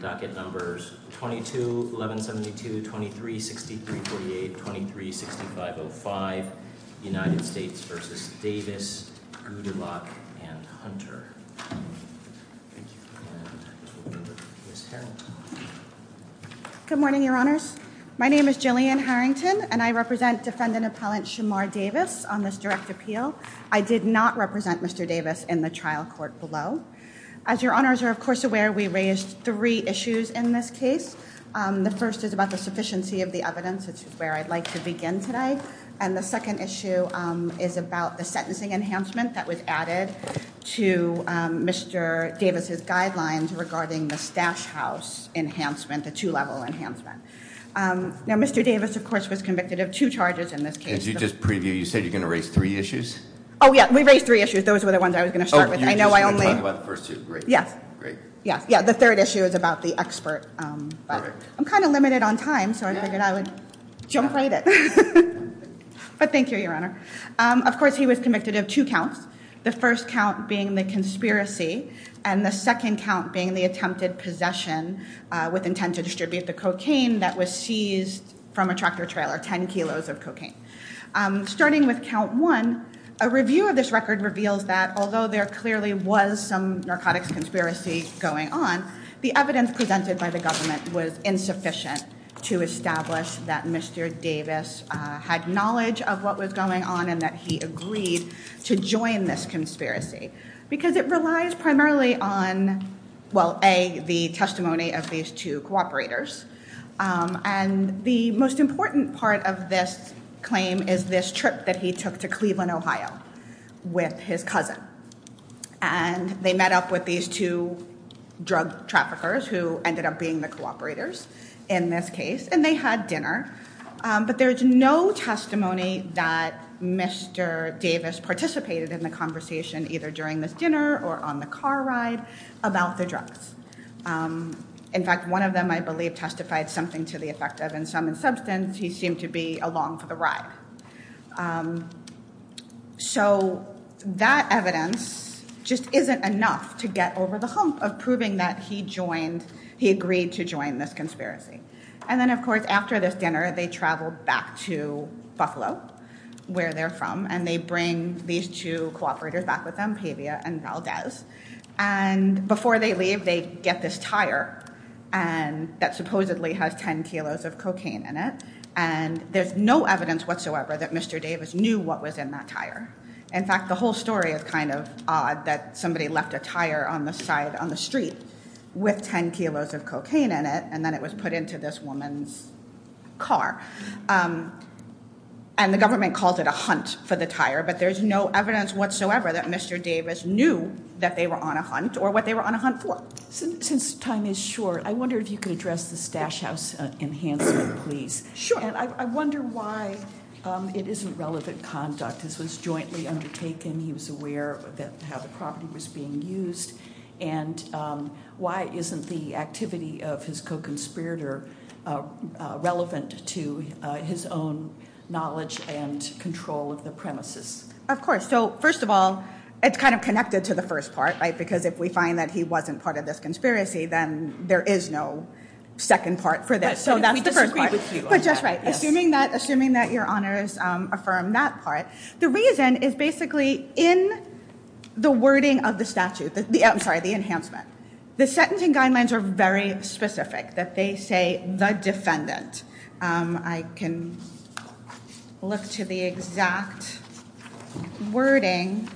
22, 1172, 23, 6348, 23, 6505, United States v. Davis, Goudelak, and Hunter. Good morning, your honors. My name is Jillian Harrington, and I represent defendant appellant Shamar Davis on this direct appeal. I did not represent Mr. Davis in the trial court below. As your honors are, of course, aware, we raised three issues in this case. The first is about the sufficiency of the evidence, which is where I'd like to begin today. And the second issue is about the sentencing enhancement that was added to Mr. Davis' guidelines regarding the stash house enhancement, the two-level enhancement. Now, Mr. Davis, of course, was convicted of two charges in this case. Did you just preview? You said you're going to raise three issues? Oh, yeah. We raised three issues. Those were the ones I was going to start with. And you're just going to talk about the first two? Great. Yes. Great. Yes. Yeah. The third issue is about the expert. Perfect. I'm kind of limited on time, so I figured I would jump right in. But thank you, your honor. Of course, he was convicted of two counts, the first count being the conspiracy, and the second count being the attempted possession with intent to distribute the cocaine that was seized from a tractor trailer, 10 kilos of cocaine. Starting with count one, a review of this record reveals that although there clearly was some narcotics conspiracy going on, the evidence presented by the government was insufficient to establish that Mr. Davis had knowledge of what was going on and that he agreed to join this conspiracy, because it relies primarily on, well, A, the testimony of these two cooperators. And the most important part of this claim is this trip that he took to Cleveland, Ohio, with his cousin. And they met up with these two drug traffickers, who ended up being the cooperators in this case, and they had dinner. But there's no testimony that Mr. Davis participated in the conversation, either during this dinner or on the car ride, about the drugs. In fact, one of them, I believe, testified something to the effect of, in sum and substance, he seemed to be along for the ride. So that evidence just isn't enough to get over the hump of proving that he agreed to join this conspiracy. And then, of course, after this dinner, they traveled back to Buffalo, where they're from, and they bring these two cooperators back with them, Pavia and Valdez. And before they leave, they get this tire that supposedly has 10 kilos of cocaine in it, and there's no evidence whatsoever that Mr. Davis knew what was in that tire. In fact, the whole story is kind of odd, that somebody left a tire on the side on the street with 10 kilos of cocaine in it, and then it was put into this woman's car. And the government calls it a hunt for the tire, but there's no evidence whatsoever that Mr. Davis knew that they were on a hunt, or what they were on a hunt for. Since time is short, I wonder if you could address the Stash House enhancement, please. Sure. And I wonder why it isn't relevant conduct. This was jointly undertaken, he was aware of how the property was being used. And why isn't the activity of his co-conspirator relevant to his own knowledge and control of the premises? Of course. So first of all, it's kind of connected to the first part, right? Because if we find that he wasn't part of this conspiracy, then there is no second part for this. So that's the first part. But just right, assuming that your honors affirm that part. The reason is basically in the wording of the statute, I'm sorry, the enhancement. The sentencing guidelines are very specific, that they say the defendant. I can look to the exact wording.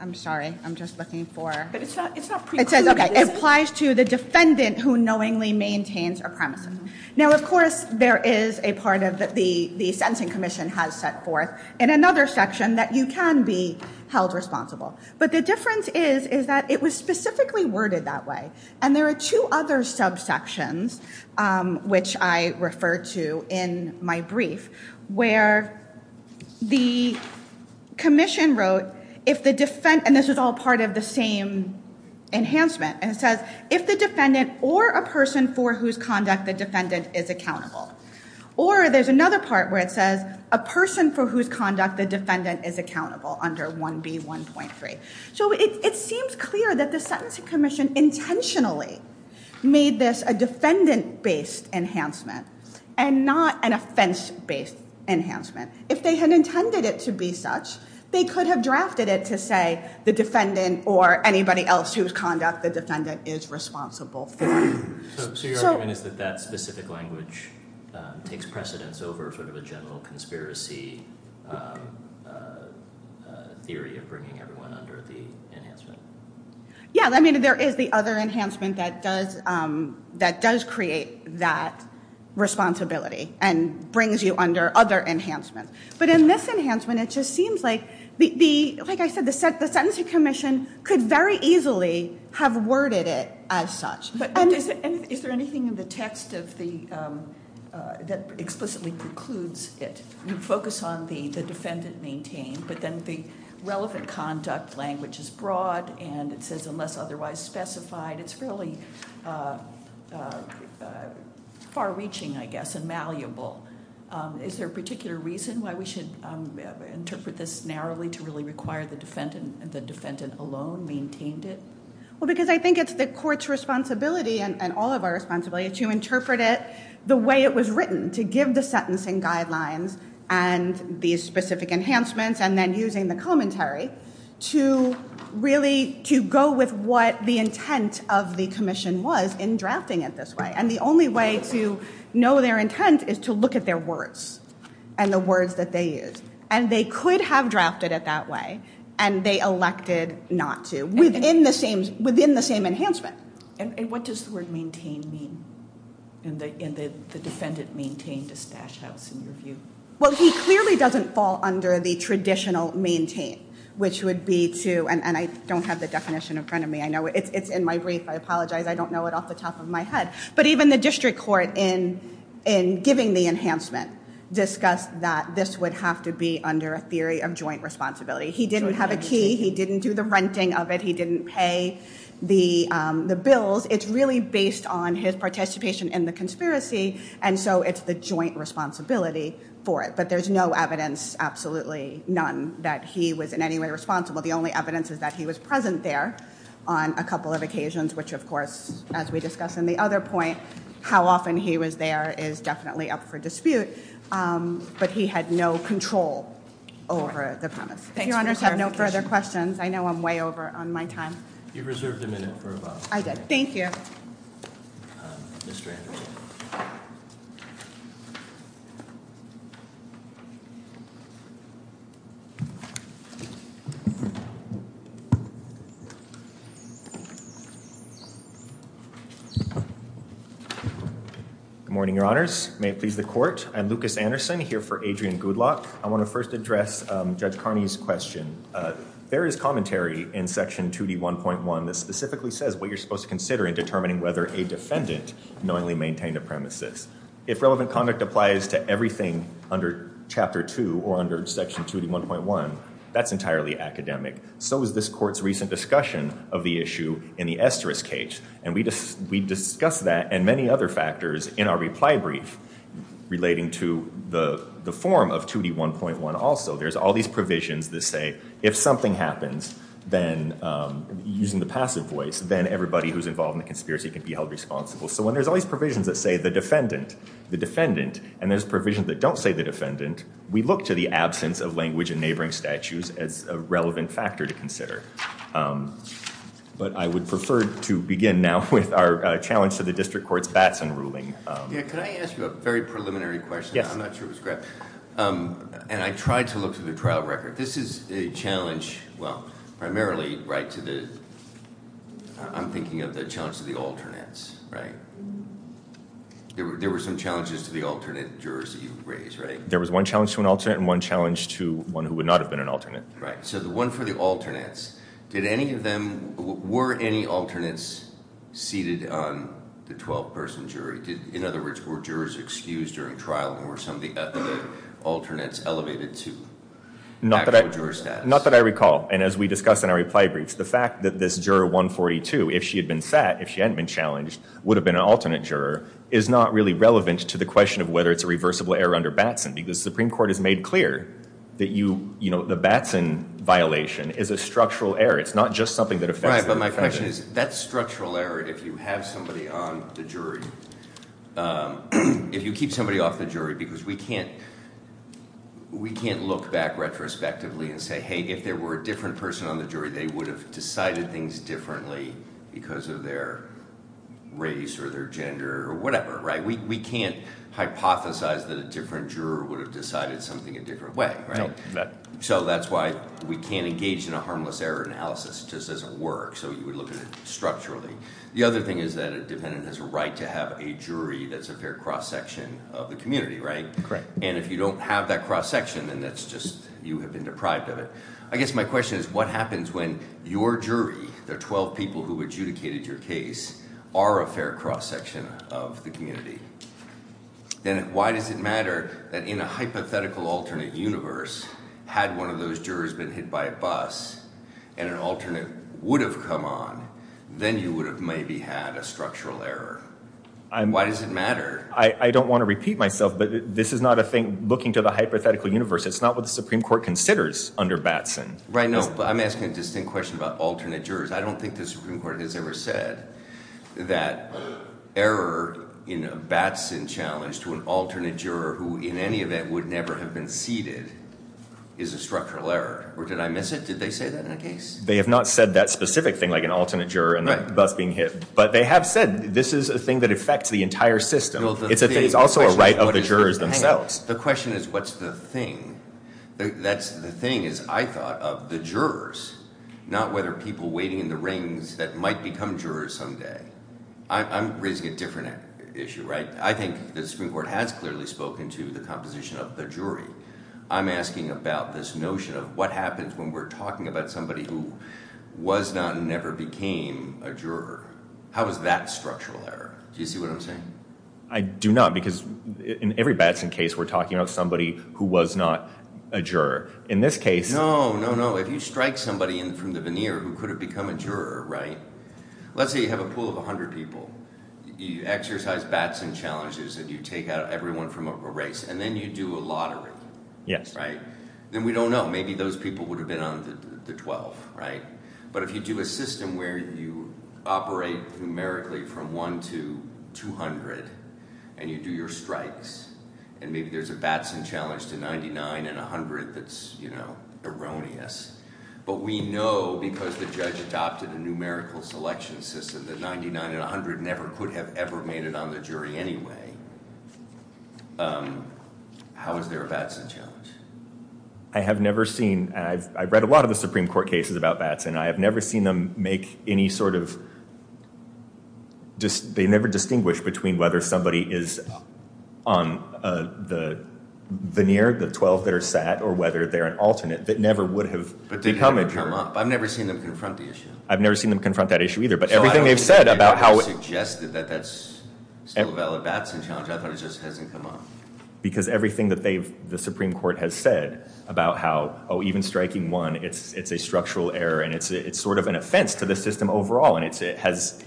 I'm sorry, I'm just looking for- But it's not precluded. It says, okay, it applies to the defendant who knowingly maintains a premise. Now, of course, there is a part of the sentencing commission has set forth in another section that you can be held responsible. But the difference is, is that it was specifically worded that way. And there are two other subsections, which I referred to in my brief, where the commission wrote, if the defen- and this is all part of the same enhancement. And it says, if the defendant or a person for whose conduct the defendant is accountable. Or there's another part where it says, a person for whose conduct the defendant is accountable under 1B1.3. So it seems clear that the sentencing commission intentionally made this a defendant-based enhancement and not an offense-based enhancement. If they had intended it to be such, they could have drafted it to say, the defendant or anybody else whose conduct the defendant is responsible for. So your argument is that that specific language takes precedence over sort of the general conspiracy theory of bringing everyone under the enhancement? Yeah, I mean, there is the other enhancement that does create that responsibility. And brings you under other enhancements. But in this enhancement, it just seems like, like I said, the sentencing commission could very easily have worded it as such. But is there anything in the text that explicitly precludes it? You focus on the defendant maintained, but then the relevant conduct language is broad. And it says, unless otherwise specified, it's really far reaching, I guess, and malleable. Is there a particular reason why we should interpret this narrowly to really require the defendant alone maintained it? Well, because I think it's the court's responsibility and all of our responsibility to interpret it the way it was written, to give the sentencing guidelines and these specific enhancements. And then using the commentary to really, to go with what the intent of the commission was in drafting it this way. And the only way to know their intent is to look at their words and the words that they use. And they could have drafted it that way. And they elected not to, within the same enhancement. And what does the word maintain mean? And the defendant maintained a stash house, in your view. Well, he clearly doesn't fall under the traditional maintain, which would be to, and I don't have the definition in front of me. I know it's in my brief, I apologize. I don't know it off the top of my head. But even the district court, in giving the enhancement, discussed that this would have to be under a theory of joint responsibility. He didn't have a key, he didn't do the renting of it, he didn't pay the bills. It's really based on his participation in the conspiracy, and so it's the joint responsibility for it. But there's no evidence, absolutely none, that he was in any way responsible. The only evidence is that he was present there on a couple of occasions, which of course, as we discussed in the other point, how often he was there is definitely up for dispute. But he had no control over the premise. If your honors have no further questions, I know I'm way over on my time. You reserved a minute for a vote. I did, thank you. Mr. Anderson. Good morning, your honors. May it please the court. I'm Lucas Anderson, here for Adrian Goodluck. I want to first address Judge Carney's question. There is commentary in Section 2D1.1 that specifically says what you're supposed to consider in determining whether a defendant knowingly maintained a premises. If relevant conduct applies to everything under Chapter 2 or under Section 2D1.1, that's entirely academic. So is this court's recent discussion of the issue in the esteris case. And we discussed that and many other factors in our reply brief relating to the form of 2D1.1 also. There's all these provisions that say if something happens, then using the passive voice, then everybody who's involved in the conspiracy can be held responsible. So when there's all these provisions that say the defendant, the defendant, and there's provisions that don't say the defendant, we look to the absence of language and neighboring statutes as a relevant factor to consider. But I would prefer to begin now with our challenge to the district court's Batson ruling. Yeah, can I ask you a very preliminary question? Yes. I'm not sure if it's correct. And I tried to look through the trial record. This is a challenge, well, primarily right to the, I'm thinking of the challenge to the alternates, right? There were some challenges to the alternate jurors that you raised, right? There was one challenge to an alternate and one challenge to one who would not have been an alternate. Right. So the one for the alternates, did any of them, were any alternates seated on the 12-person jury? In other words, were jurors excused during trial and were some of the alternates elevated to actual juror status? Not that I recall. And as we discussed in our reply briefs, the fact that this juror 142, if she had been sat, if she hadn't been challenged, would have been an alternate juror, is not really relevant to the question of whether it's a reversible error under Batson. Because the Supreme Court has made clear that the Batson violation is a structural error. It's not just something that affects- Right, but my question is, that structural error, if you have somebody on the jury, if you keep somebody off the jury, because we can't look back retrospectively and say, hey, if there were a different person on the jury, they would have decided things differently because of their race or their gender or whatever, right? We can't hypothesize that a different juror would have decided something a different way, right? So that's why we can't engage in a harmless error analysis, it just doesn't work, so you would look at it structurally. The other thing is that a dependent has a right to have a jury that's a fair cross section of the community, right? Correct. And if you don't have that cross section, then that's just, you have been deprived of it. I guess my question is, what happens when your jury, the 12 people who adjudicated your case, are a fair cross section of the community? Then why does it matter that in a hypothetical alternate universe, had one of those jurors been hit by a bus and an alternate would have come on, then you would have maybe had a structural error. Why does it matter? I don't want to repeat myself, but this is not a thing, looking to the hypothetical universe, it's not what the Supreme Court considers under Batson. Right, no, but I'm asking a distinct question about alternate jurors. I don't think the Supreme Court has ever said that error in a Batson challenge to an alternate juror, who in any event would never have been seated, is a structural error. Or did I miss it? Did they say that in a case? They have not said that specific thing, like an alternate juror and a bus being hit. But they have said, this is a thing that affects the entire system. It's also a right of the jurors themselves. The question is, what's the thing? That's the thing is, I thought of the jurors, not whether people waiting in the rings that might become jurors someday. I'm raising a different issue, right? I think the Supreme Court has clearly spoken to the composition of the jury. I'm asking about this notion of what happens when we're talking about somebody who was not and never became a juror. How is that structural error? Do you see what I'm saying? I do not, because in every Batson case, we're talking about somebody who was not a juror. In this case... No, no, no. If you strike somebody in from the veneer who could have become a juror, right? Let's say you have a pool of 100 people. You exercise Batson challenges and you take out everyone from a race and then you do a lottery. Yes. Right? Then we don't know. Maybe those people would have been on the 12, right? But if you do a system where you operate numerically from 1 to 200, and you do your strikes, and maybe there's a Batson challenge to 99 and 100 that's erroneous, but we know because the judge adopted a numerical selection system that 99 and 100 never could have ever made it on the jury anyway. How is there a Batson challenge? I have never seen... I've read a lot of the Supreme Court cases about Batson. I have never seen them make any sort of... They never distinguish between whether somebody is on the veneer, the 12 that are sat, or whether they're an alternate that never would have become a juror. I've never seen them confront the issue. I've never seen them confront that issue either. But everything they've said about how... ...suggested that that's still a valid Batson challenge. I thought it just hasn't come up. Because everything that the Supreme Court has said about how, oh, even striking one, it's a structural error, and it's sort of an offense to the system overall, and it's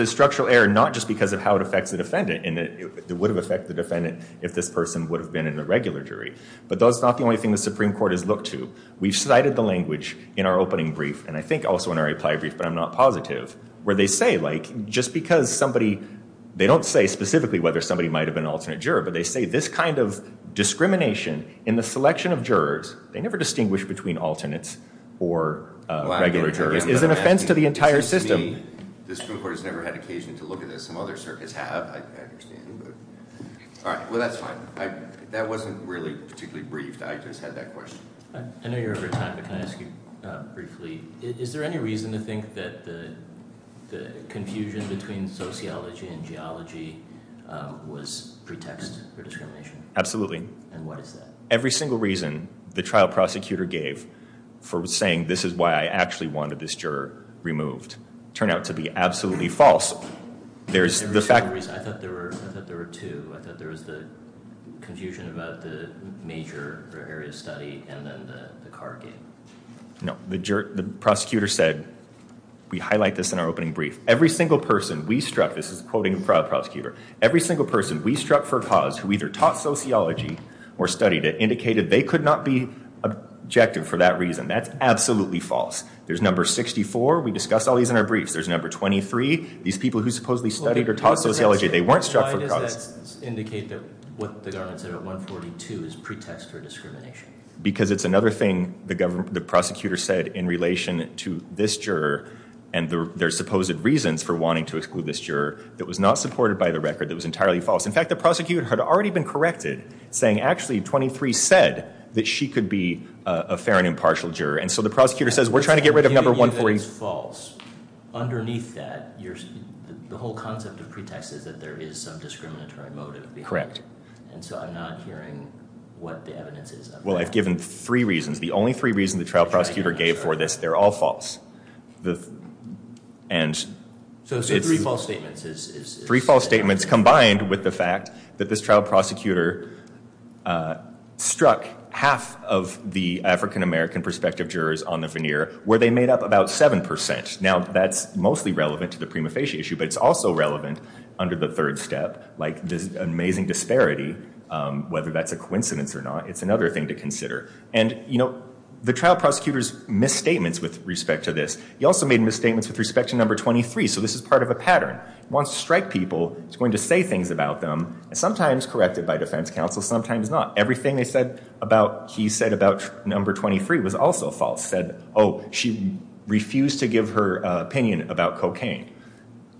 a structural error not just because of how it affects the defendant, and it would have affected the defendant if this person would have been in a regular jury. But that's not the only thing the Supreme Court has looked to. We've cited the language in our opening brief, and I think also in our reply brief, but I'm not positive, where they say just because somebody... They don't say specifically whether somebody might have been an alternate juror, but they say this kind of discrimination in the selection of jurors, they never distinguish between alternates or regular jurors, is an offense to the entire system. The Supreme Court has never had occasion to look at this. Some other circuits have, I understand. All right, well, that's fine. That wasn't really particularly brief. I just had that question. I know you're over time, but can I ask you briefly, is there any reason to think that the confusion between sociology and geology was pretext for discrimination? Absolutely. And what is that? Every single reason the trial prosecutor gave for saying, this is why I actually wanted this juror removed, turned out to be absolutely false. There's the fact... I thought there were two. I thought there was the confusion about the major or area of study, and then the car gate. No, the prosecutor said, we highlight this in our opening brief, every single person we struck, this is quoting the trial prosecutor, every single person we struck for cause, who either taught sociology or studied it, indicated they could not be objective for that reason. That's absolutely false. There's number 64. We discussed all these in our briefs. There's number 23. These people who supposedly studied or taught sociology, they weren't struck for cause. Why does that indicate that what the government said at 142 is pretext for discrimination? Because it's another thing the prosecutor said in relation to this juror and their supposed reasons for wanting to exclude this juror that was not supported by the record, that was entirely false. In fact, the prosecutor had already been corrected, saying, actually, 23 said that she could be a fair and impartial juror. And so the prosecutor says, we're trying to get rid of number 140. If it's false, underneath that, the whole concept of pretext is that there is some discriminatory motive. Correct. And so I'm not hearing what the evidence is. Well, I've given three reasons. The only three reasons the trial prosecutor gave for this, they're all false. And so three false statements is... Three false statements combined with the fact that this trial prosecutor struck half of the African-American prospective jurors on the veneer, where they made up about 7%. Now, that's mostly relevant to the prima facie issue, but it's also relevant under the third step, like this amazing disparity. Whether that's a coincidence or not, it's another thing to consider. And the trial prosecutor's misstatements with respect to this, he also made misstatements with respect to number 23. So this is part of a pattern. He wants to strike people. He's going to say things about them. Sometimes corrected by defense counsel, sometimes not. Everything he said about number 23 was also false. Said, oh, she refused to give her opinion about cocaine.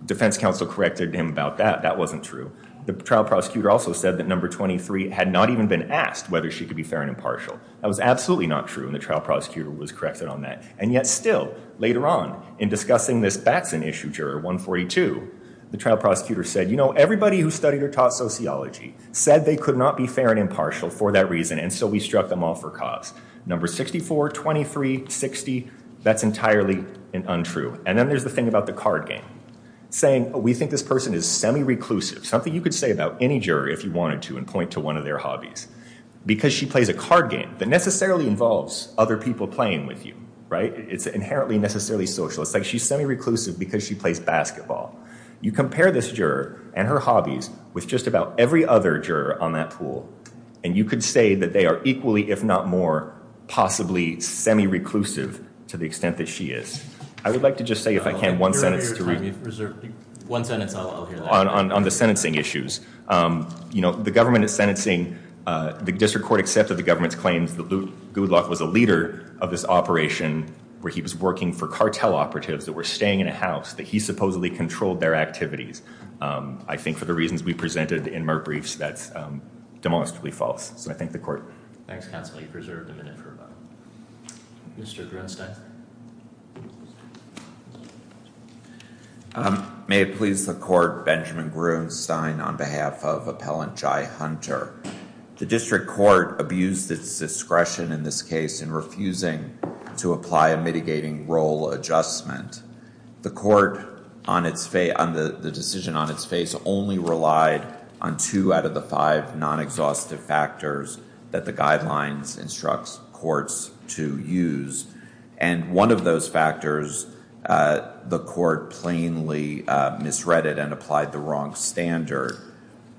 Defense counsel corrected him about that. That wasn't true. The trial prosecutor also said that number 23 had not even been asked whether she could be fair and impartial. That was absolutely not true. And the trial prosecutor was corrected on that. And yet still, later on, in discussing this Batson issue juror, 142, the trial prosecutor said, you know, everybody who studied or taught sociology said they could not be fair and impartial for that reason. And so we struck them off for cause. Number 64, 23, 60, that's entirely untrue. And then there's the thing about the card game. Saying, oh, we think this person is semi-reclusive. Something you could say about any juror if you wanted to and point to one of their hobbies. Because she plays a card game that necessarily involves other people playing with you, right? It's inherently necessarily social. It's like she's semi-reclusive because she plays basketball. You compare this juror and her hobbies with just about every other juror on that pool, and you could say that they are equally, if not more, possibly semi-reclusive to the extent that she is. I would like to just say, if I can, one sentence. You're out of time. One sentence, I'll hear that. On the sentencing issues. You know, the government is sentencing. The district court accepted the government's claims that Goodluck was a leader of this operation where he was working for cartel operatives that were staying in a house that he supposedly controlled their activities. I think for the reasons we presented in my briefs, that's demonstrably false. So I thank the court. Thanks, counsel. You preserved a minute for a vote. Mr. Grunstein. May it please the court, Benjamin Grunstein on behalf of Appellant Jai Hunter. The district court abused its discretion in this case in refusing to apply a mitigating role adjustment. The court, on the decision on its face, only relied on two out of the five non-exhaustive factors that the guidelines instructs courts to use. And one of those factors, the court plainly misread it and applied the wrong standard.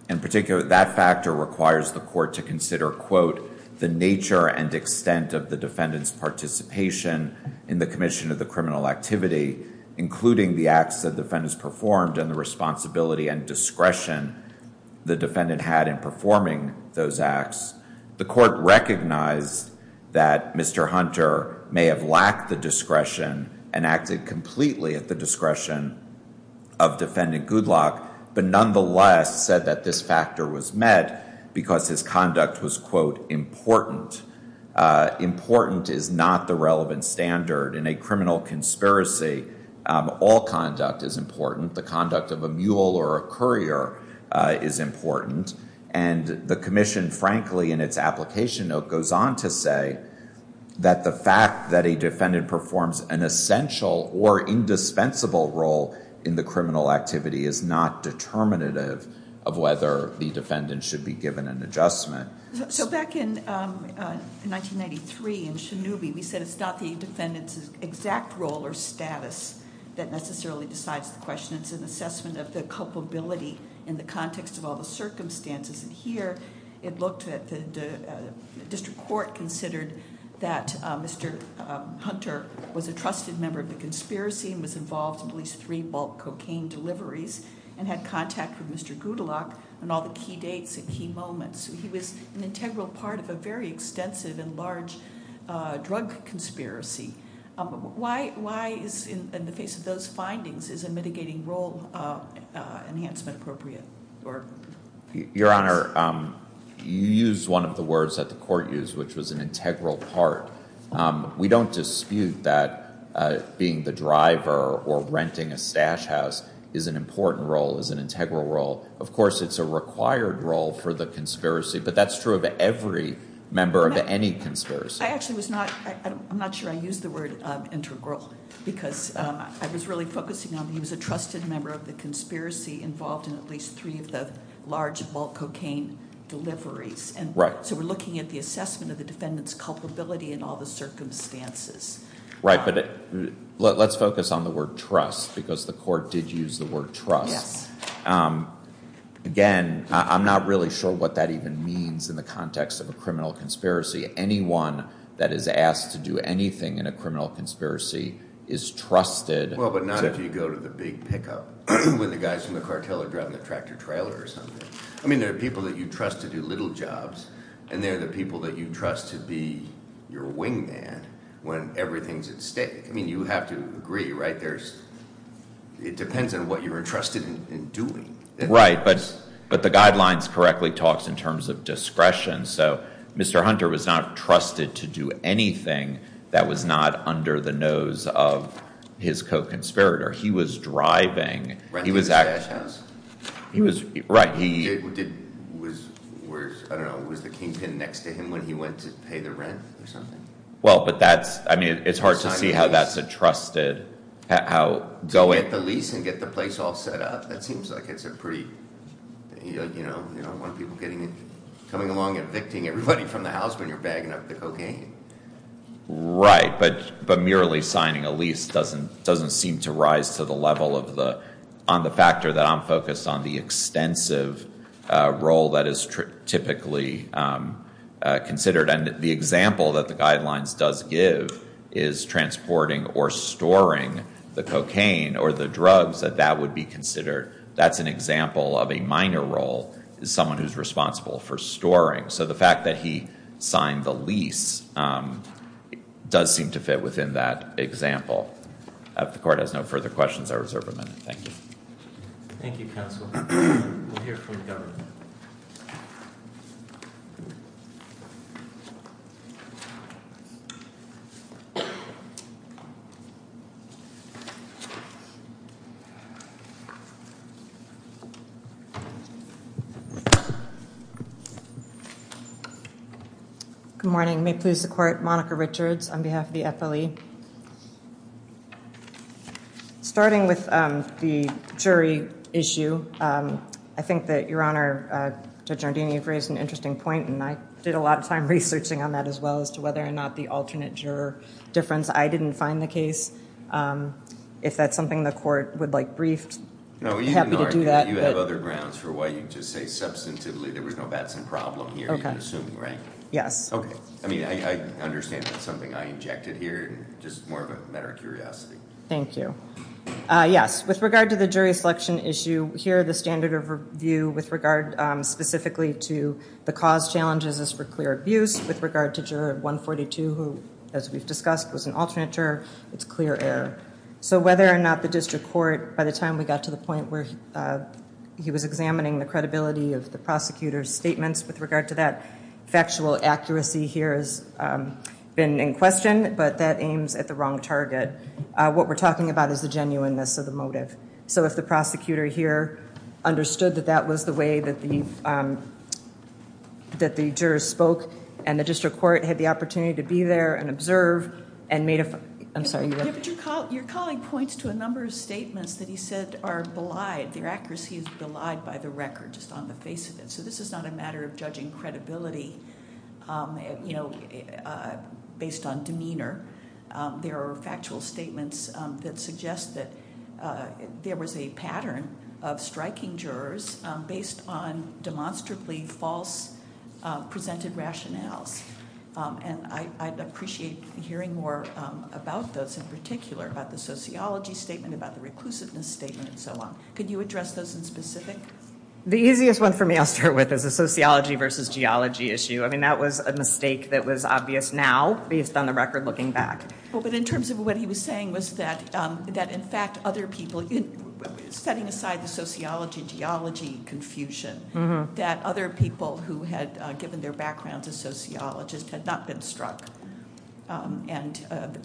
In particular, that factor requires the court to consider, quote, the nature and extent of the defendant's participation in the commission of the criminal activity, including the acts that defendants performed and the responsibility and discretion the defendant had in performing those acts. The court recognized that Mr. Hunter may have lacked the discretion and acted completely at the discretion of defendant Goodlock, but nonetheless said that this factor was met because his conduct was, quote, important. Important is not the relevant standard. In a criminal conspiracy, all conduct is important. The conduct of a mule or a courier is important. And the commission, frankly, in its application note, goes on to say that the fact that a defendant performs an essential or indispensable role in the criminal activity is not determinative of whether the defendant should be given an adjustment. So back in 1993 in Shinnewbee, we said it's not the defendant's exact role or status that necessarily decides the question. It's an assessment of the culpability in the context of all the circumstances. And here it looked at the district court considered that Mr. Hunter was a trusted member of the conspiracy and was involved in at least three bulk cocaine deliveries and had contact with Mr. Goodlock on all the key dates and key moments. He was an integral part of a very extensive and large drug conspiracy. Why is, in the face of those findings, is a mitigating role enhancement appropriate? Or... Your Honor, you used one of the words that the court used, which was an integral part. We don't dispute that being the driver or renting a stash house is an important role, is an integral role. Of course, it's a required role for the conspiracy, but that's true of every member of any conspiracy. I actually was not... I'm not sure I used the word integral because I was really focusing on he was a trusted member of the conspiracy, involved in at least three of the large bulk cocaine deliveries. And so we're looking at the assessment of the defendant's culpability in all the circumstances. Right, but let's focus on the word trust because the court did use the word trust. Again, I'm not really sure what that even means in the context of a criminal conspiracy. Anyone that is asked to do anything in a criminal conspiracy is trusted. Well, but not if you go to the big pickup when the guys from the cartel are driving the tractor trailer or something. I mean, there are people that you trust to do little jobs and they're the people that you trust to be your wingman when everything's at stake. I mean, you have to agree, right? It depends on what you're entrusted in doing. Right, but the guidelines correctly talks in terms of discretion. So Mr. Hunter was not trusted to do anything that was not under the nose of his co-conspirator. He was driving. Renting a stash house? He was, right. Who did, was, I don't know, was the kingpin next to him when he went to pay the rent or something? Well, but that's, I mean, it's hard to see how that's a trusted, how going- To get the lease and get the place all set up. That seems like it's a pretty, when people getting, coming along, evicting everybody from the house when you're bagging up the cocaine. Right, but merely signing a lease doesn't seem to rise to the level of the, on the factor that I'm focused on the extensive role that is typically considered. And the example that the guidelines does give is transporting or storing the cocaine or the drugs that that would be considered. That's an example of a minor role is someone who's responsible for storing. So the fact that he signed the lease does seem to fit within that example. If the court has no further questions, I reserve a minute. Thank you. Thank you, counsel. We'll hear from the governor. Good morning. May it please the court, Monica Richards on behalf of the FLE. Starting with the jury issue, I think that your honor, Judge Nardini, you've raised an interesting point. And I did a lot of time researching on that as well as to whether or not the alternate juror difference, I didn't find the case. If that's something the court would like to hear, No, you have other grounds for why you just say substantively, there was no Batson problem here, you can assume, right? Yes. I mean, I understand that's something I injected here, just more of a matter of curiosity. Thank you. Yes, with regard to the jury selection issue here, the standard of review with regard specifically to the cause challenges is for clear abuse with regard to juror 142, who as we've discussed was an alternate juror, it's clear error. So whether or not the district court by the time we got to the point where he was examining the credibility of the prosecutor's statements with regard to that factual accuracy here has been in question, but that aims at the wrong target. What we're talking about is the genuineness of the motive. So if the prosecutor here understood that that was the way that the jurors spoke and the district court had the opportunity to be there and observe and made a, I'm sorry. Your colleague points to a number of statements that he said are belied. Their accuracy is belied by the record just on the face of it. So this is not a matter of judging credibility based on demeanor. There are factual statements that suggest that there was a pattern of striking jurors based on demonstrably false presented rationales. And I'd appreciate hearing more about those in particular, about the sociology statement, about the reclusiveness statement and so on. Could you address those in specific? The easiest one for me I'll start with is the sociology versus geology issue. I mean, that was a mistake that was obvious now based on the record looking back. Well, but in terms of what he was saying was that in fact other people, setting aside the sociology, geology confusion, that other people who had given their backgrounds as sociologists had not been struck. And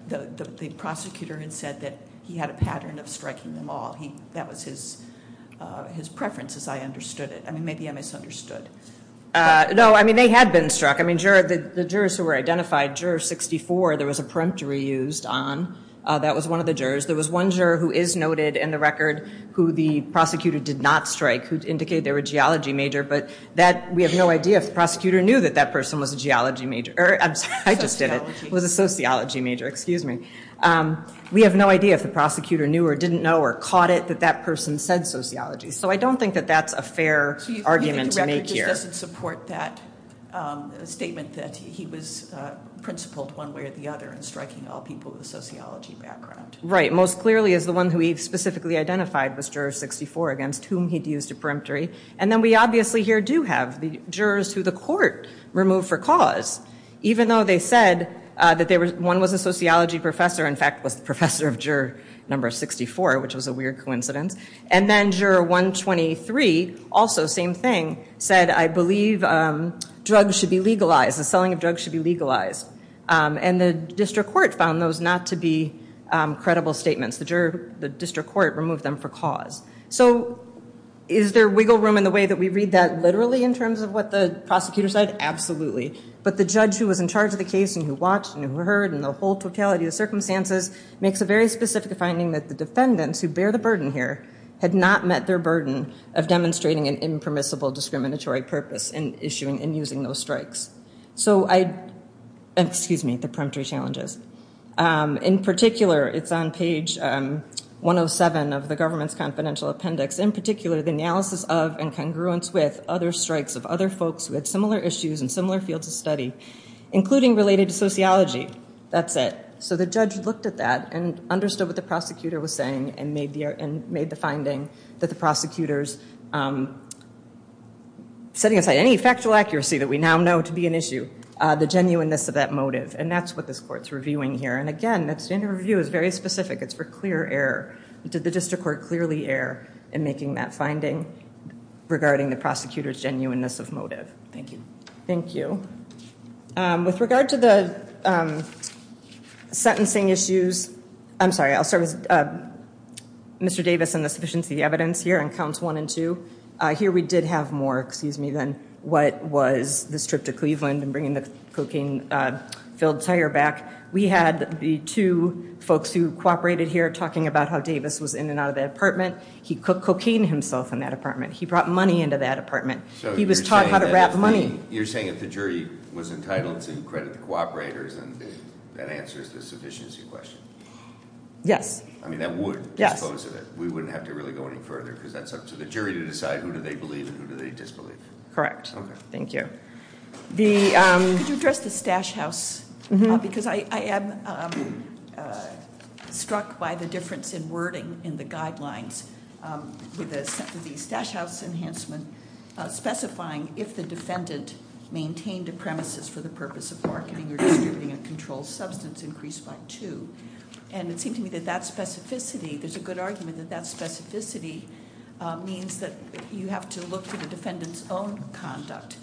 the prosecutor had said that he had a pattern of striking them all. That was his preference as I understood it. I mean, maybe I misunderstood. No, I mean, they had been struck. I mean, the jurors who were identified, Juror 64, there was a peremptory used on. That was one of the jurors. There was one juror who is noted in the record who the prosecutor did not strike, who indicated they were a geology major. But we have no idea if the prosecutor knew that that person was a geology major. Or I'm sorry, I just did it. It was a sociology major, excuse me. We have no idea if the prosecutor knew or didn't know or caught it that that person said sociology. So I don't think that that's a fair argument to make here. So you think the record just doesn't support that statement that he was principled one way or the other in striking all people with a sociology background? Right, most clearly is the one who he specifically identified was Juror 64 against whom he'd used a peremptory. And then we obviously here do have the jurors who the court removed for cause. Even though they said that one was a sociology professor, in fact, was the professor of Juror number 64, which was a weird coincidence. And then Juror 123, also same thing, said I believe drugs should be legalized. The selling of drugs should be legalized. And the district court found those not to be credible statements. The district court removed them for cause. So is there wiggle room in the way that we read that literally in terms of what the prosecutor said? Absolutely. But the judge who was in charge of the case and who watched and who heard and the whole totality of the circumstances makes a very specific finding that the defendants who bear the burden here had not met their burden of demonstrating an impermissible discriminatory purpose in issuing and using those strikes. So I, excuse me, the peremptory challenges. In particular, it's on page 107 of the government's confidential appendix. In particular, the analysis of and congruence with other strikes of other folks who had similar issues and similar fields of study, including related to sociology. That's it. So the judge looked at that and understood what the prosecutor was saying and made the finding that the prosecutor's setting aside any factual accuracy that we now know to be an issue, the genuineness of that motive. And that's what this court's reviewing here. And again, that standard review is very specific. It's for clear error. Did the district court clearly err in making that finding regarding the prosecutor's genuineness of motive? Thank you. Thank you. With regard to the sentencing issues, I'm sorry, I'll start with Mr. Davis and the sufficiency of the evidence here on counts one and two. Here we did have more, excuse me, than what was this trip to Cleveland and bringing the cocaine-filled tire back. We had the two folks who cooperated here talking about how Davis was in and out of that apartment. He cocained himself in that apartment. He brought money into that apartment. He was taught how to wrap money. You're saying if the jury was entitled to credit the cooperators and that answers the sufficiency question? Yes. I mean, that would dispose of it. We wouldn't have to really go any further because that's up to the jury to decide who do they believe and who do they disbelieve. Correct. Thank you. Could you address the stash house? Because I am struck by the difference in wording in the guidelines with the stash house enhancement specifying if the defendant maintained a premises for the purpose of marketing or distributing a controlled substance increased by two. And it seemed to me that that specificity, there's a good argument that that specificity means that you have to look for the defendant's own conduct.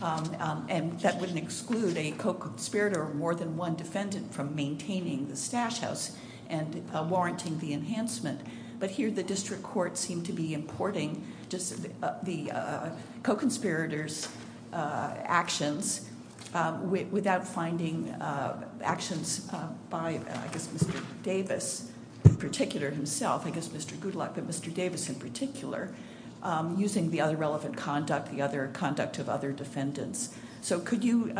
And that wouldn't exclude a co-conspirator or more than one defendant from maintaining the stash house and warranting the enhancement. But here the district court seemed to be importing just the co-conspirators actions without finding actions by, I guess, Mr. Davis in particular himself, I guess, Mr. Goodluck, but Mr. Davis in particular using the other relevant conduct, the other conduct of other defendants. So could you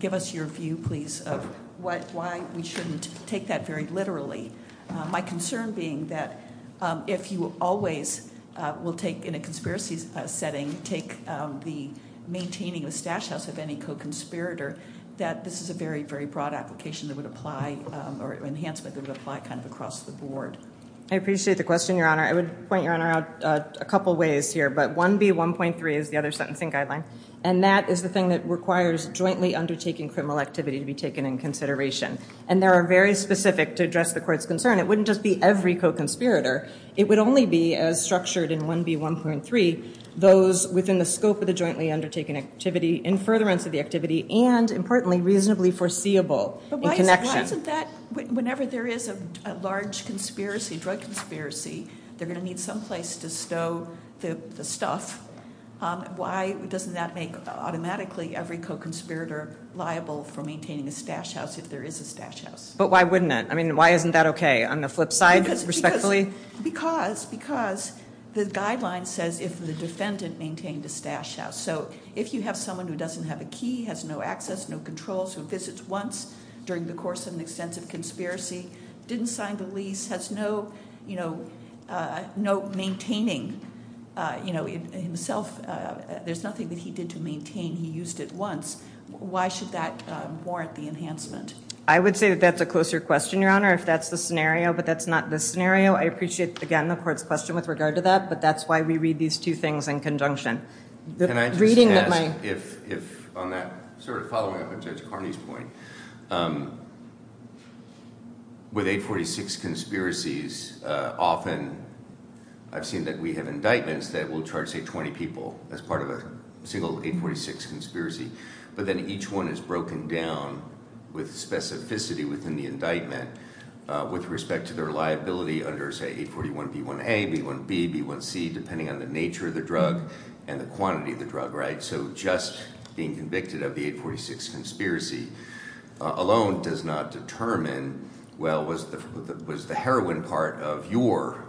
give us your view, please, of why we shouldn't take that very literally? My concern being that if you always will take in a conspiracy setting, take the maintaining the stash house of any co-conspirator, that this is a very, very broad application that would apply or enhancement that would apply kind of across the board. I appreciate the question, Your Honor. I would point Your Honor out a couple of ways here, but 1B1.3 is the other sentencing guideline. And that is the thing that requires jointly undertaking criminal activity to be taken in consideration. And there are very specific to address the court's concern. It wouldn't just be every co-conspirator. It would only be as structured in 1B1.3, those within the scope of the jointly undertaking activity in furtherance of the activity and importantly, reasonably foreseeable in connection. But why isn't that, whenever there is a large drug conspiracy, they're going to need someplace to stow the stuff. Why doesn't that make automatically every co-conspirator liable for maintaining a stash house if there is a stash house? But why wouldn't it? I mean, why isn't that okay? On the flip side, respectfully. Because the guideline says if the defendant maintained a stash house. So if you have someone who doesn't have a key, has no access, no controls, who visits once during the course of an extensive conspiracy, didn't sign the lease, has no maintaining himself. There's nothing that he did to maintain. He used it once. Why should that warrant the enhancement? I would say that that's a closer question, Your Honor. If that's the scenario, but that's not the scenario. I appreciate, again, the court's question with regard to that. But that's why we read these two things in conjunction. Can I just ask if on that, sort of following up on Judge Carney's point, with 846 conspiracies, often I've seen that we have indictments that will charge, say, 20 people as part of a single 846 conspiracy. But then each one is broken down with specificity within the indictment. With respect to their liability under, say, 841B1A, B1B, B1C, depending on the nature of the drug and the quantity of the drug, right? So just being convicted of the 846 conspiracy alone does not determine, well, was the heroin part of your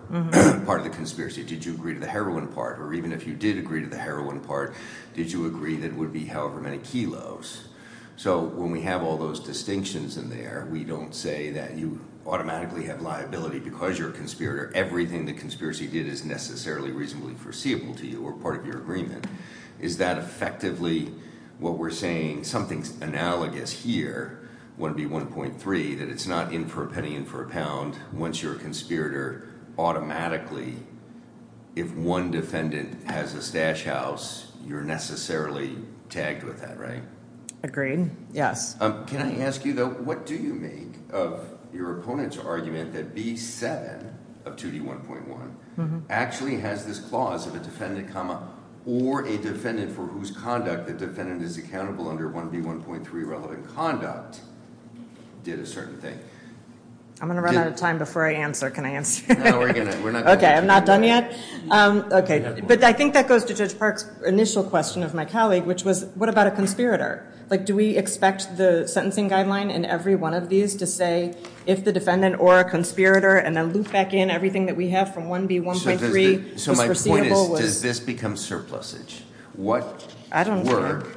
part of the conspiracy? Did you agree to the heroin part? Or even if you did agree to the heroin part, did you agree that it would be however many kilos? So when we have all those distinctions in there, we don't say that you automatically have liability because you're a conspirator. Everything the conspiracy did is necessarily reasonably foreseeable to you or part of your agreement. Is that effectively what we're saying? Something's analogous here, 1B1.3, that it's not in for a penny, in for a pound. Once you're a conspirator, automatically, if one defendant has a stash house, you're necessarily tagged with that, right? Agreed, yes. Can I ask you, though, what do you make of your opponent's argument that B7 of 2D1.1 actually has this clause of a defendant, comma, or a defendant for whose conduct the defendant is accountable under 1B1.3 relevant conduct did a certain thing? I'm going to run out of time before I answer. Can I answer? Okay, I'm not done yet. Okay, but I think that goes to Judge Park's initial question of my colleague, which was, what about a conspirator? Like, do we expect the sentencing guideline in every one of these to say if the defendant or a conspirator and then loop back in everything that we have from 1B1.3 was foreseeable? So my point is, does this become surplusage? What work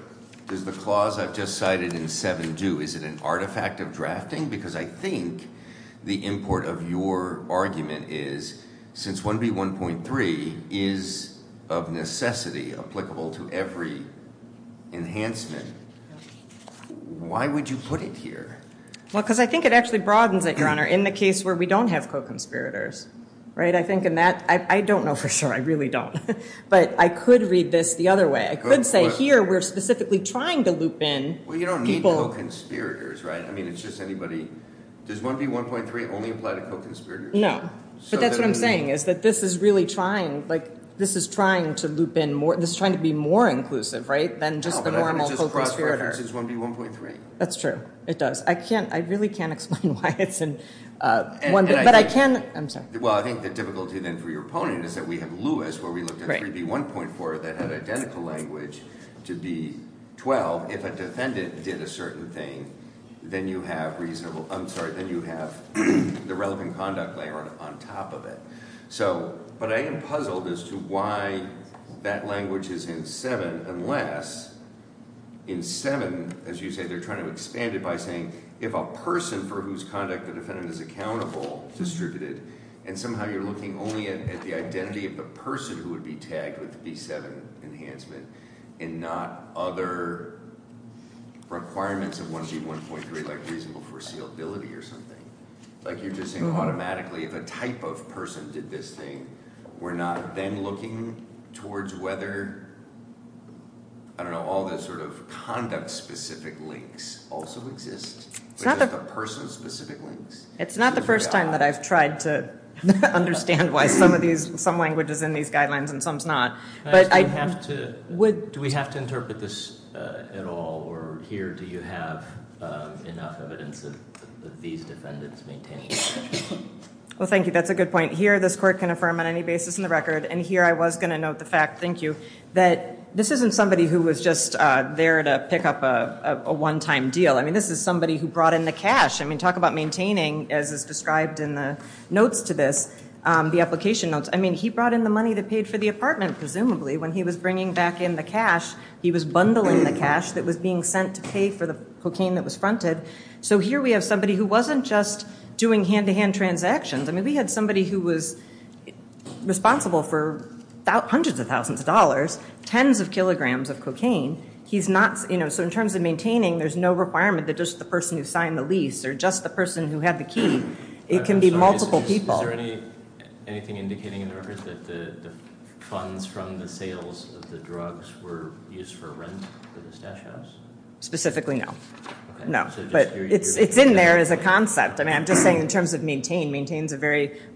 does the clause I've just cited in 7 do? Is it an artifact of drafting? Because I think the import of your argument is, since 1B1.3 is of necessity applicable to every enhancement, why would you put it here? Well, because I think it actually broadens it, Your Honor, in the case where we don't have co-conspirators, right? I think in that, I don't know for sure. I really don't. But I could read this the other way. I could say here, we're specifically trying to loop in. Well, you don't need co-conspirators, right? I mean, it's just anybody. Does 1B1.3 only apply to co-conspirators? No, but that's what I'm saying is that this is really trying, like, this is trying to loop in more. This is trying to be more inclusive, right, than just the normal co-conspirator. No, but I'm just cross-referencing 1B1.3. That's true, it does. I can't, I really can't explain why it's in 1B. But I can, I'm sorry. Well, I think the difficulty then for your opponent is that we have Lewis, where we looked at 3B1.4 that had identical language to B12. If a defendant did a certain thing, then you have reasonable, I'm sorry, then you have the relevant conduct layer on top of it. So, but I am puzzled as to why that language is in 7, unless in 7, as you say, they're trying to expand it by saying if a person for whose conduct the defendant is accountable distributed, and somehow you're looking only at the identity of the person who would be tagged with the B7 enhancement and not other requirements of 1B1.3, like reasonable foreseeability or something. Like, you're just saying automatically if a type of person did this thing, we're not then looking towards whether, I don't know, all those sort of conduct-specific links also exist, but just the person-specific links. It's not the first time that I've tried to understand why some of these, some language is in these guidelines and some's not. But I... Do we have to interpret this at all? Or here, do you have enough evidence of these defendants maintaining? Well, thank you, that's a good point. Here, this court can affirm on any basis in the record, and here I was gonna note the fact, thank you, that this isn't somebody who was just there to pick up a one-time deal. I mean, this is somebody who brought in the cash. I mean, talk about maintaining, as is described in the notes to this, the application notes. I mean, he brought in the money that paid for the apartment, presumably, when he was bringing back in the cash. He was bundling the cash that was being sent to pay for the cocaine that was fronted. So here we have somebody who wasn't just doing hand-to-hand transactions. I mean, we had somebody who was responsible for hundreds of thousands of dollars, tens of kilograms of cocaine. He's not... So in terms of maintaining, there's no requirement that just the person who signed the lease or just the person who had the key, it can be multiple people. Is there anything indicating in the record that the funds from the sales of the drugs were used for rent for this stash house? Specifically, no. No, but it's in there as a concept. I mean, I'm just saying in terms of maintain,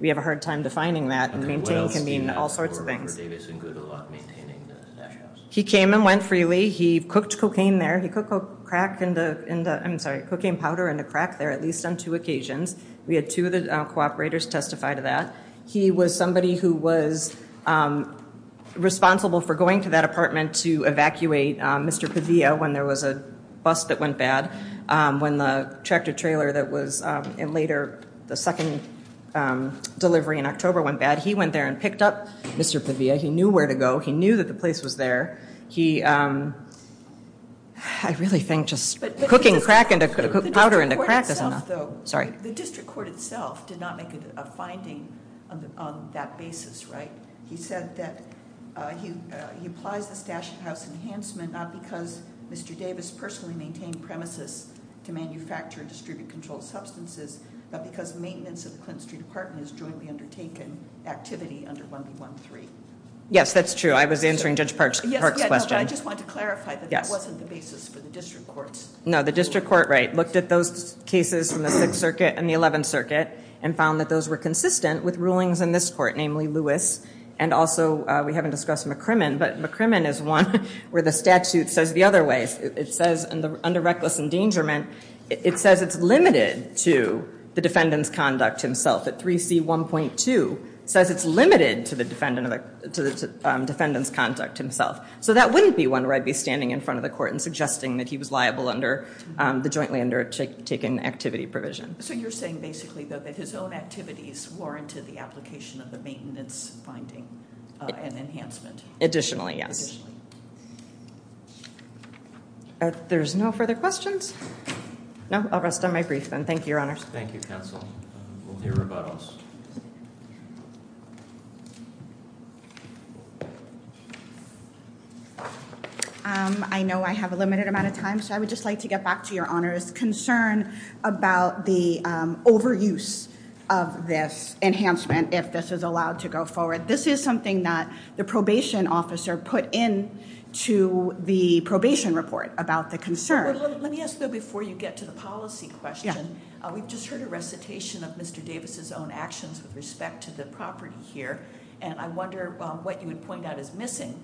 we have a hard time defining that. And maintain can mean all sorts of things. For Davidson, good luck maintaining the stash house. He came and went freely. He cooked cocaine there. He cooked a crack in the... I'm sorry, cocaine powder in a crack there, at least on two occasions. We had two of the cooperators testify to that. He was somebody who was responsible for going to that apartment to evacuate Mr. Pavia when there was a bus that went bad, when the tractor trailer that was later the second delivery in October went bad. He went there and picked up Mr. Pavia. He knew where to go. He knew that the place was there. He... I really think just cooking powder into crack is enough. The district court itself did not make a finding on that basis, right? He said that he applies the stash house enhancement not because Mr. Davis personally maintained premises to manufacture and distribute controlled substances, but because maintenance of the Clinton Street apartment is jointly undertaken activity under 1B13. Yes, that's true. I was answering Judge Park's question. I just want to clarify that that wasn't the basis for the district courts. No, the district court, right, looked at those cases from the Sixth Circuit and the Eleventh Circuit and found that those were consistent with rulings in this court, namely Lewis, and also we haven't discussed McCrimmon, but McCrimmon is one where the statute says the other way. It says under reckless endangerment, it says it's limited to the defendant's conduct himself. That 3C1.2 says it's limited to the defendant's conduct himself. So that wouldn't be one where I'd be standing in front of the court and suggesting that he was liable under the jointly undertaken activity provision. So you're saying basically though that his own activities warranted the application of the maintenance finding and enhancement? Additionally, yes. There's no further questions? No, I'll rest on my brief then. Thank you, Your Honors. Thank you, Counsel. We'll hear about us. I know I have a limited amount of time, so I would just like to get back to Your Honors' concern about the overuse of this enhancement if this is allowed to go forward. This is something that the probation officer put into the probation report about the concern. Let me ask though before you get to the policy question, we've just heard a recitation of Mr. Davis' own actions with respect to the property here. And I wonder what you would point out is missing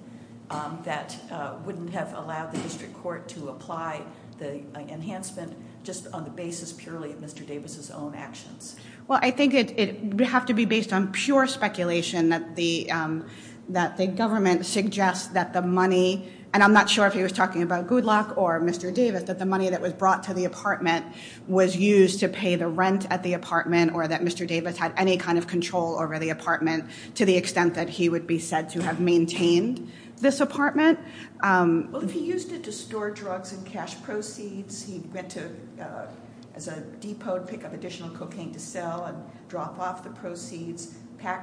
that wouldn't have allowed the district court to apply the enhancement just on the basis purely of Mr. Davis' own actions. Well, I think it would have to be based on pure speculation that the government suggests that the money, and I'm not sure if he was talking about Goodluck or Mr. Davis, that the money that was brought to the apartment was used to pay the rent at the apartment or that Mr. Davis had any kind of control over the apartment to the extent that he would be said to have maintained this apartment. Well, if he used it to store drugs and cash proceeds, he went to, as a depot, pick up additional cocaine to sell and drop off the proceeds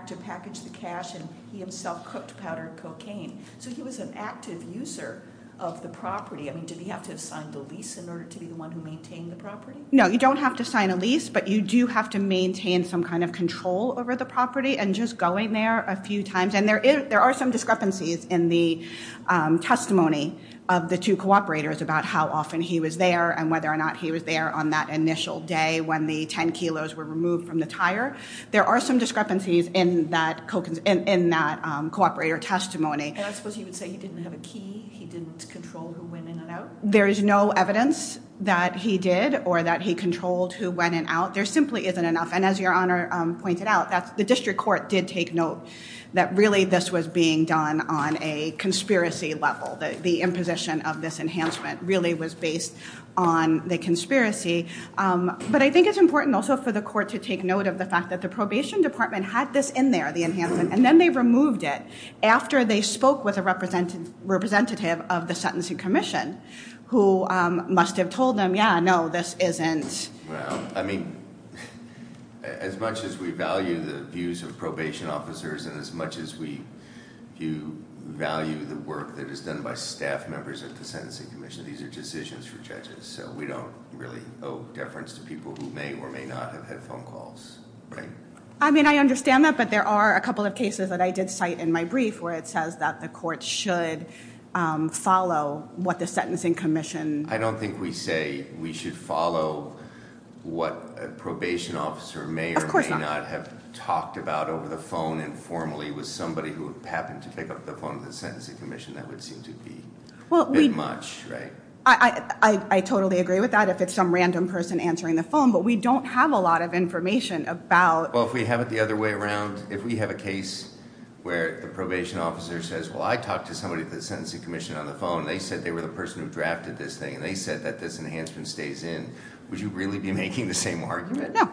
to package the cash, and he himself cooked powdered cocaine. So he was an active user of the property. Did he have to sign the lease in order to be the one who maintained the property? No, you don't have to sign a lease, but you do have to maintain some kind of control over the property and just going there a few times. And there are some discrepancies in the testimony of the two cooperators about how often he was there and whether or not he was there on that initial day when the 10 kilos were removed from the tire. There are some discrepancies in that cooperator testimony. And I suppose you would say he didn't have a key, he didn't control who went in and out? There is no evidence that he did or that he controlled who went in and out. There simply isn't enough. And as Your Honor pointed out, the district court did take note that really this was being done on a conspiracy level. The imposition of this enhancement really was based on the conspiracy. But I think it's important also for the court to take note of the fact that the probation department had this in there, the enhancement, and then they removed it after they spoke with a representative of the Sentencing Commission, who must have told them, yeah, no, this isn't. I mean, as much as we value the views of probation officers and as much as we value the work that is done by staff members at the Sentencing Commission, these are decisions for judges. So we don't really owe deference to people who may or may not have had phone calls, right? I mean, I understand that, but there are a couple of cases that I did cite in my brief where it says that the court should follow what the Sentencing Commission- I don't think we say we should follow what a probation officer may or may not have talked about over the phone informally with somebody who happened to pick up the phone with the Sentencing Commission. That would seem to be a bit much, right? I totally agree with that if it's some random person answering the phone, but we don't have a lot of information about- Well, if we have it the other way around, if we have a case where the probation officer says, well, I talked to somebody at the Sentencing Commission on the phone, and they said they were the person who drafted this thing, and they said that this enhancement stays in, would you really be making the same argument? No.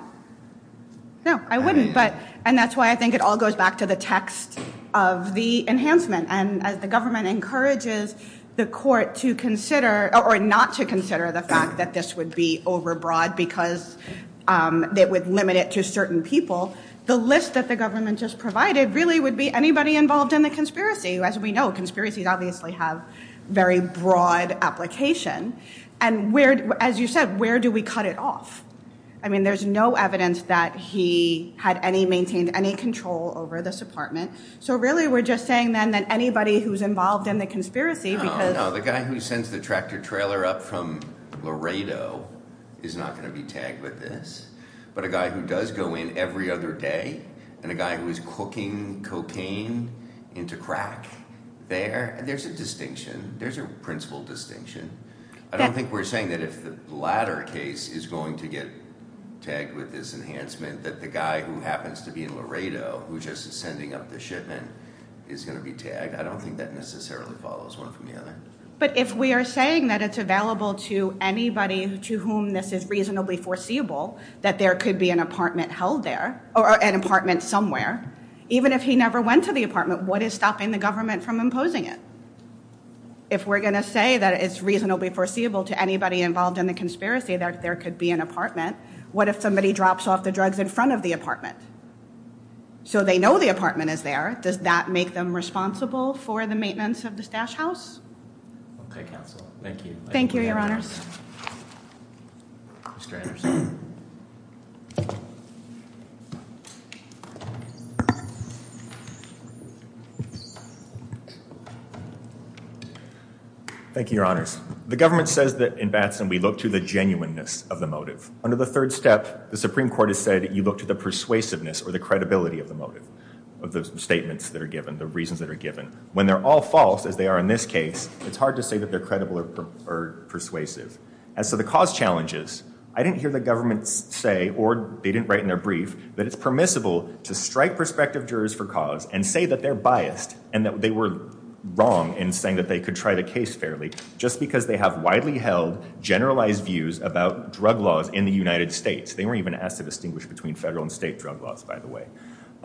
No, I wouldn't. And that's why I think it all goes back to the text of the enhancement. And as the government encourages the court to consider- or not to consider the fact that this would be overbroad because it would limit it to certain people, the list that the government just provided really would be anybody involved in the conspiracy. As we know, conspiracies obviously have very broad application. And as you said, where do we cut it off? I mean, there's no evidence that he had any- maintained any control over this apartment. So really, we're just saying, then, that anybody who's involved in the conspiracy because- No, no, the guy who sends the tractor trailer up from Laredo is not going to be tagged with this. But a guy who does go in every other day, and a guy who is cooking cocaine into crack, there, there's a distinction. There's a principal distinction. I don't think we're saying that if the latter case is going to get tagged with this enhancement, that the guy who happens to be in Laredo, who just is sending up the shipment, is going to be tagged. I don't think that necessarily follows one from the other. But if we are saying that it's available to anybody to whom this is reasonably foreseeable, that there could be an apartment held there, or an apartment somewhere, even if he never went to the apartment, what is stopping the government from imposing it? If we're going to say that it's reasonably foreseeable to anybody involved in the conspiracy that there could be an apartment, what if somebody drops off the drugs in front of the apartment? So they know the apartment is there. Does that make them responsible for the maintenance of the stash house? Okay, counsel. Thank you. Thank you, your honors. Mr. Anderson. Thank you, your honors. The government says that in Batson, we look to the genuineness of the motive. Under the third step, the Supreme Court has said you look to the persuasiveness or the credibility of the motive, of those statements that are given, the reasons that are given. When they're all false, as they are in this case, it's hard to say that they're credible or persuasive. As to the cause challenges, I didn't hear the government say, or they didn't write in their brief, that it's permissible to strike prospective jurors for cause and say that they're biased and that they were wrong in saying that they could try the case fairly just because they have widely held, generalized views about drug laws in the United States. They weren't even asked to distinguish between federal and state drug laws, by the way.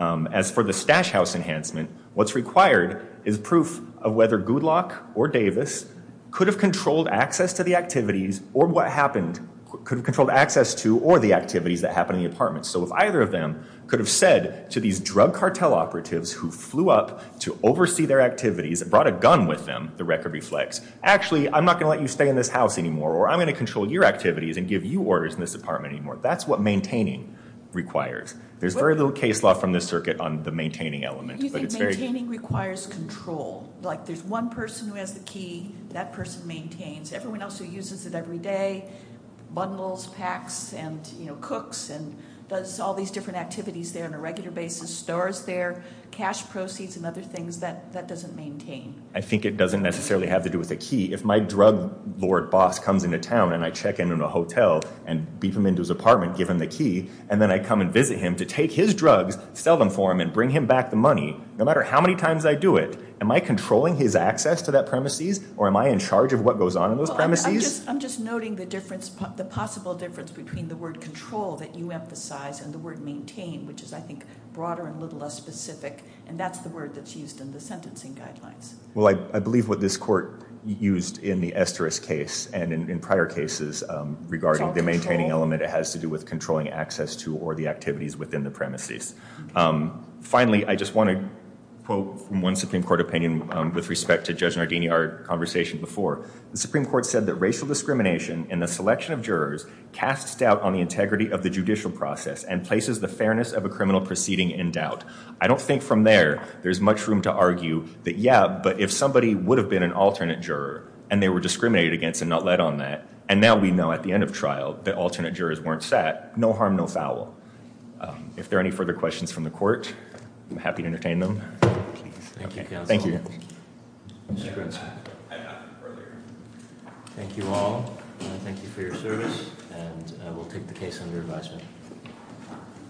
As for the stash house enhancement, what's required is proof of whether Goodlock or Davis could have controlled access to the activities or what happened, could have controlled access to or the activities that happen in the apartment. So if either of them could have said to these drug cartel operatives who flew up to oversee their activities and brought a gun with them, the record reflects, actually, I'm not gonna let you stay in this house anymore or I'm gonna control your activities and give you orders in this apartment anymore. That's what maintaining requires. There's very little case law from this circuit on the maintaining element. Do you think maintaining requires control? Like there's one person who has the key, that person maintains. Everyone else who uses it every day, bundles, packs, and cooks and does all these different activities there on a regular basis, stores there, cash proceeds and other things, that doesn't maintain. I think it doesn't necessarily have to do with the key. If my drug lord boss comes into town and I check into a hotel and beep him into his apartment, give him the key, and then I come and visit him to take his drugs, sell them for him, and bring him back the money, no matter how many times I do it, am I controlling his access to that premises or am I in charge of what goes on in those premises? I'm just noting the difference, the possible difference between the word control that you emphasize and the word maintain, which is, I think, broader and a little less specific. And that's the word that's used in the sentencing guidelines. Well, I believe what this court used in the Esteris case and in prior cases regarding the maintaining element, it has to do with controlling access to or the activities within the premises. Finally, I just want to quote from one Supreme Court opinion with respect to Judge Nardini, our conversation before. The Supreme Court said that racial discrimination in the selection of jurors casts doubt on the integrity of the judicial process and places the fairness of a criminal proceeding in doubt. I don't think from there, there's much room to argue that, yeah, but if somebody would have been an alternate juror and they were discriminated against and not led on that, and now we know at the end of trial that alternate jurors weren't set, no harm, no foul. If there are any further questions from the court, I'm happy to entertain them. Thank you, counsel. Thank you all. Thank you for your service and we'll take the case under advisement.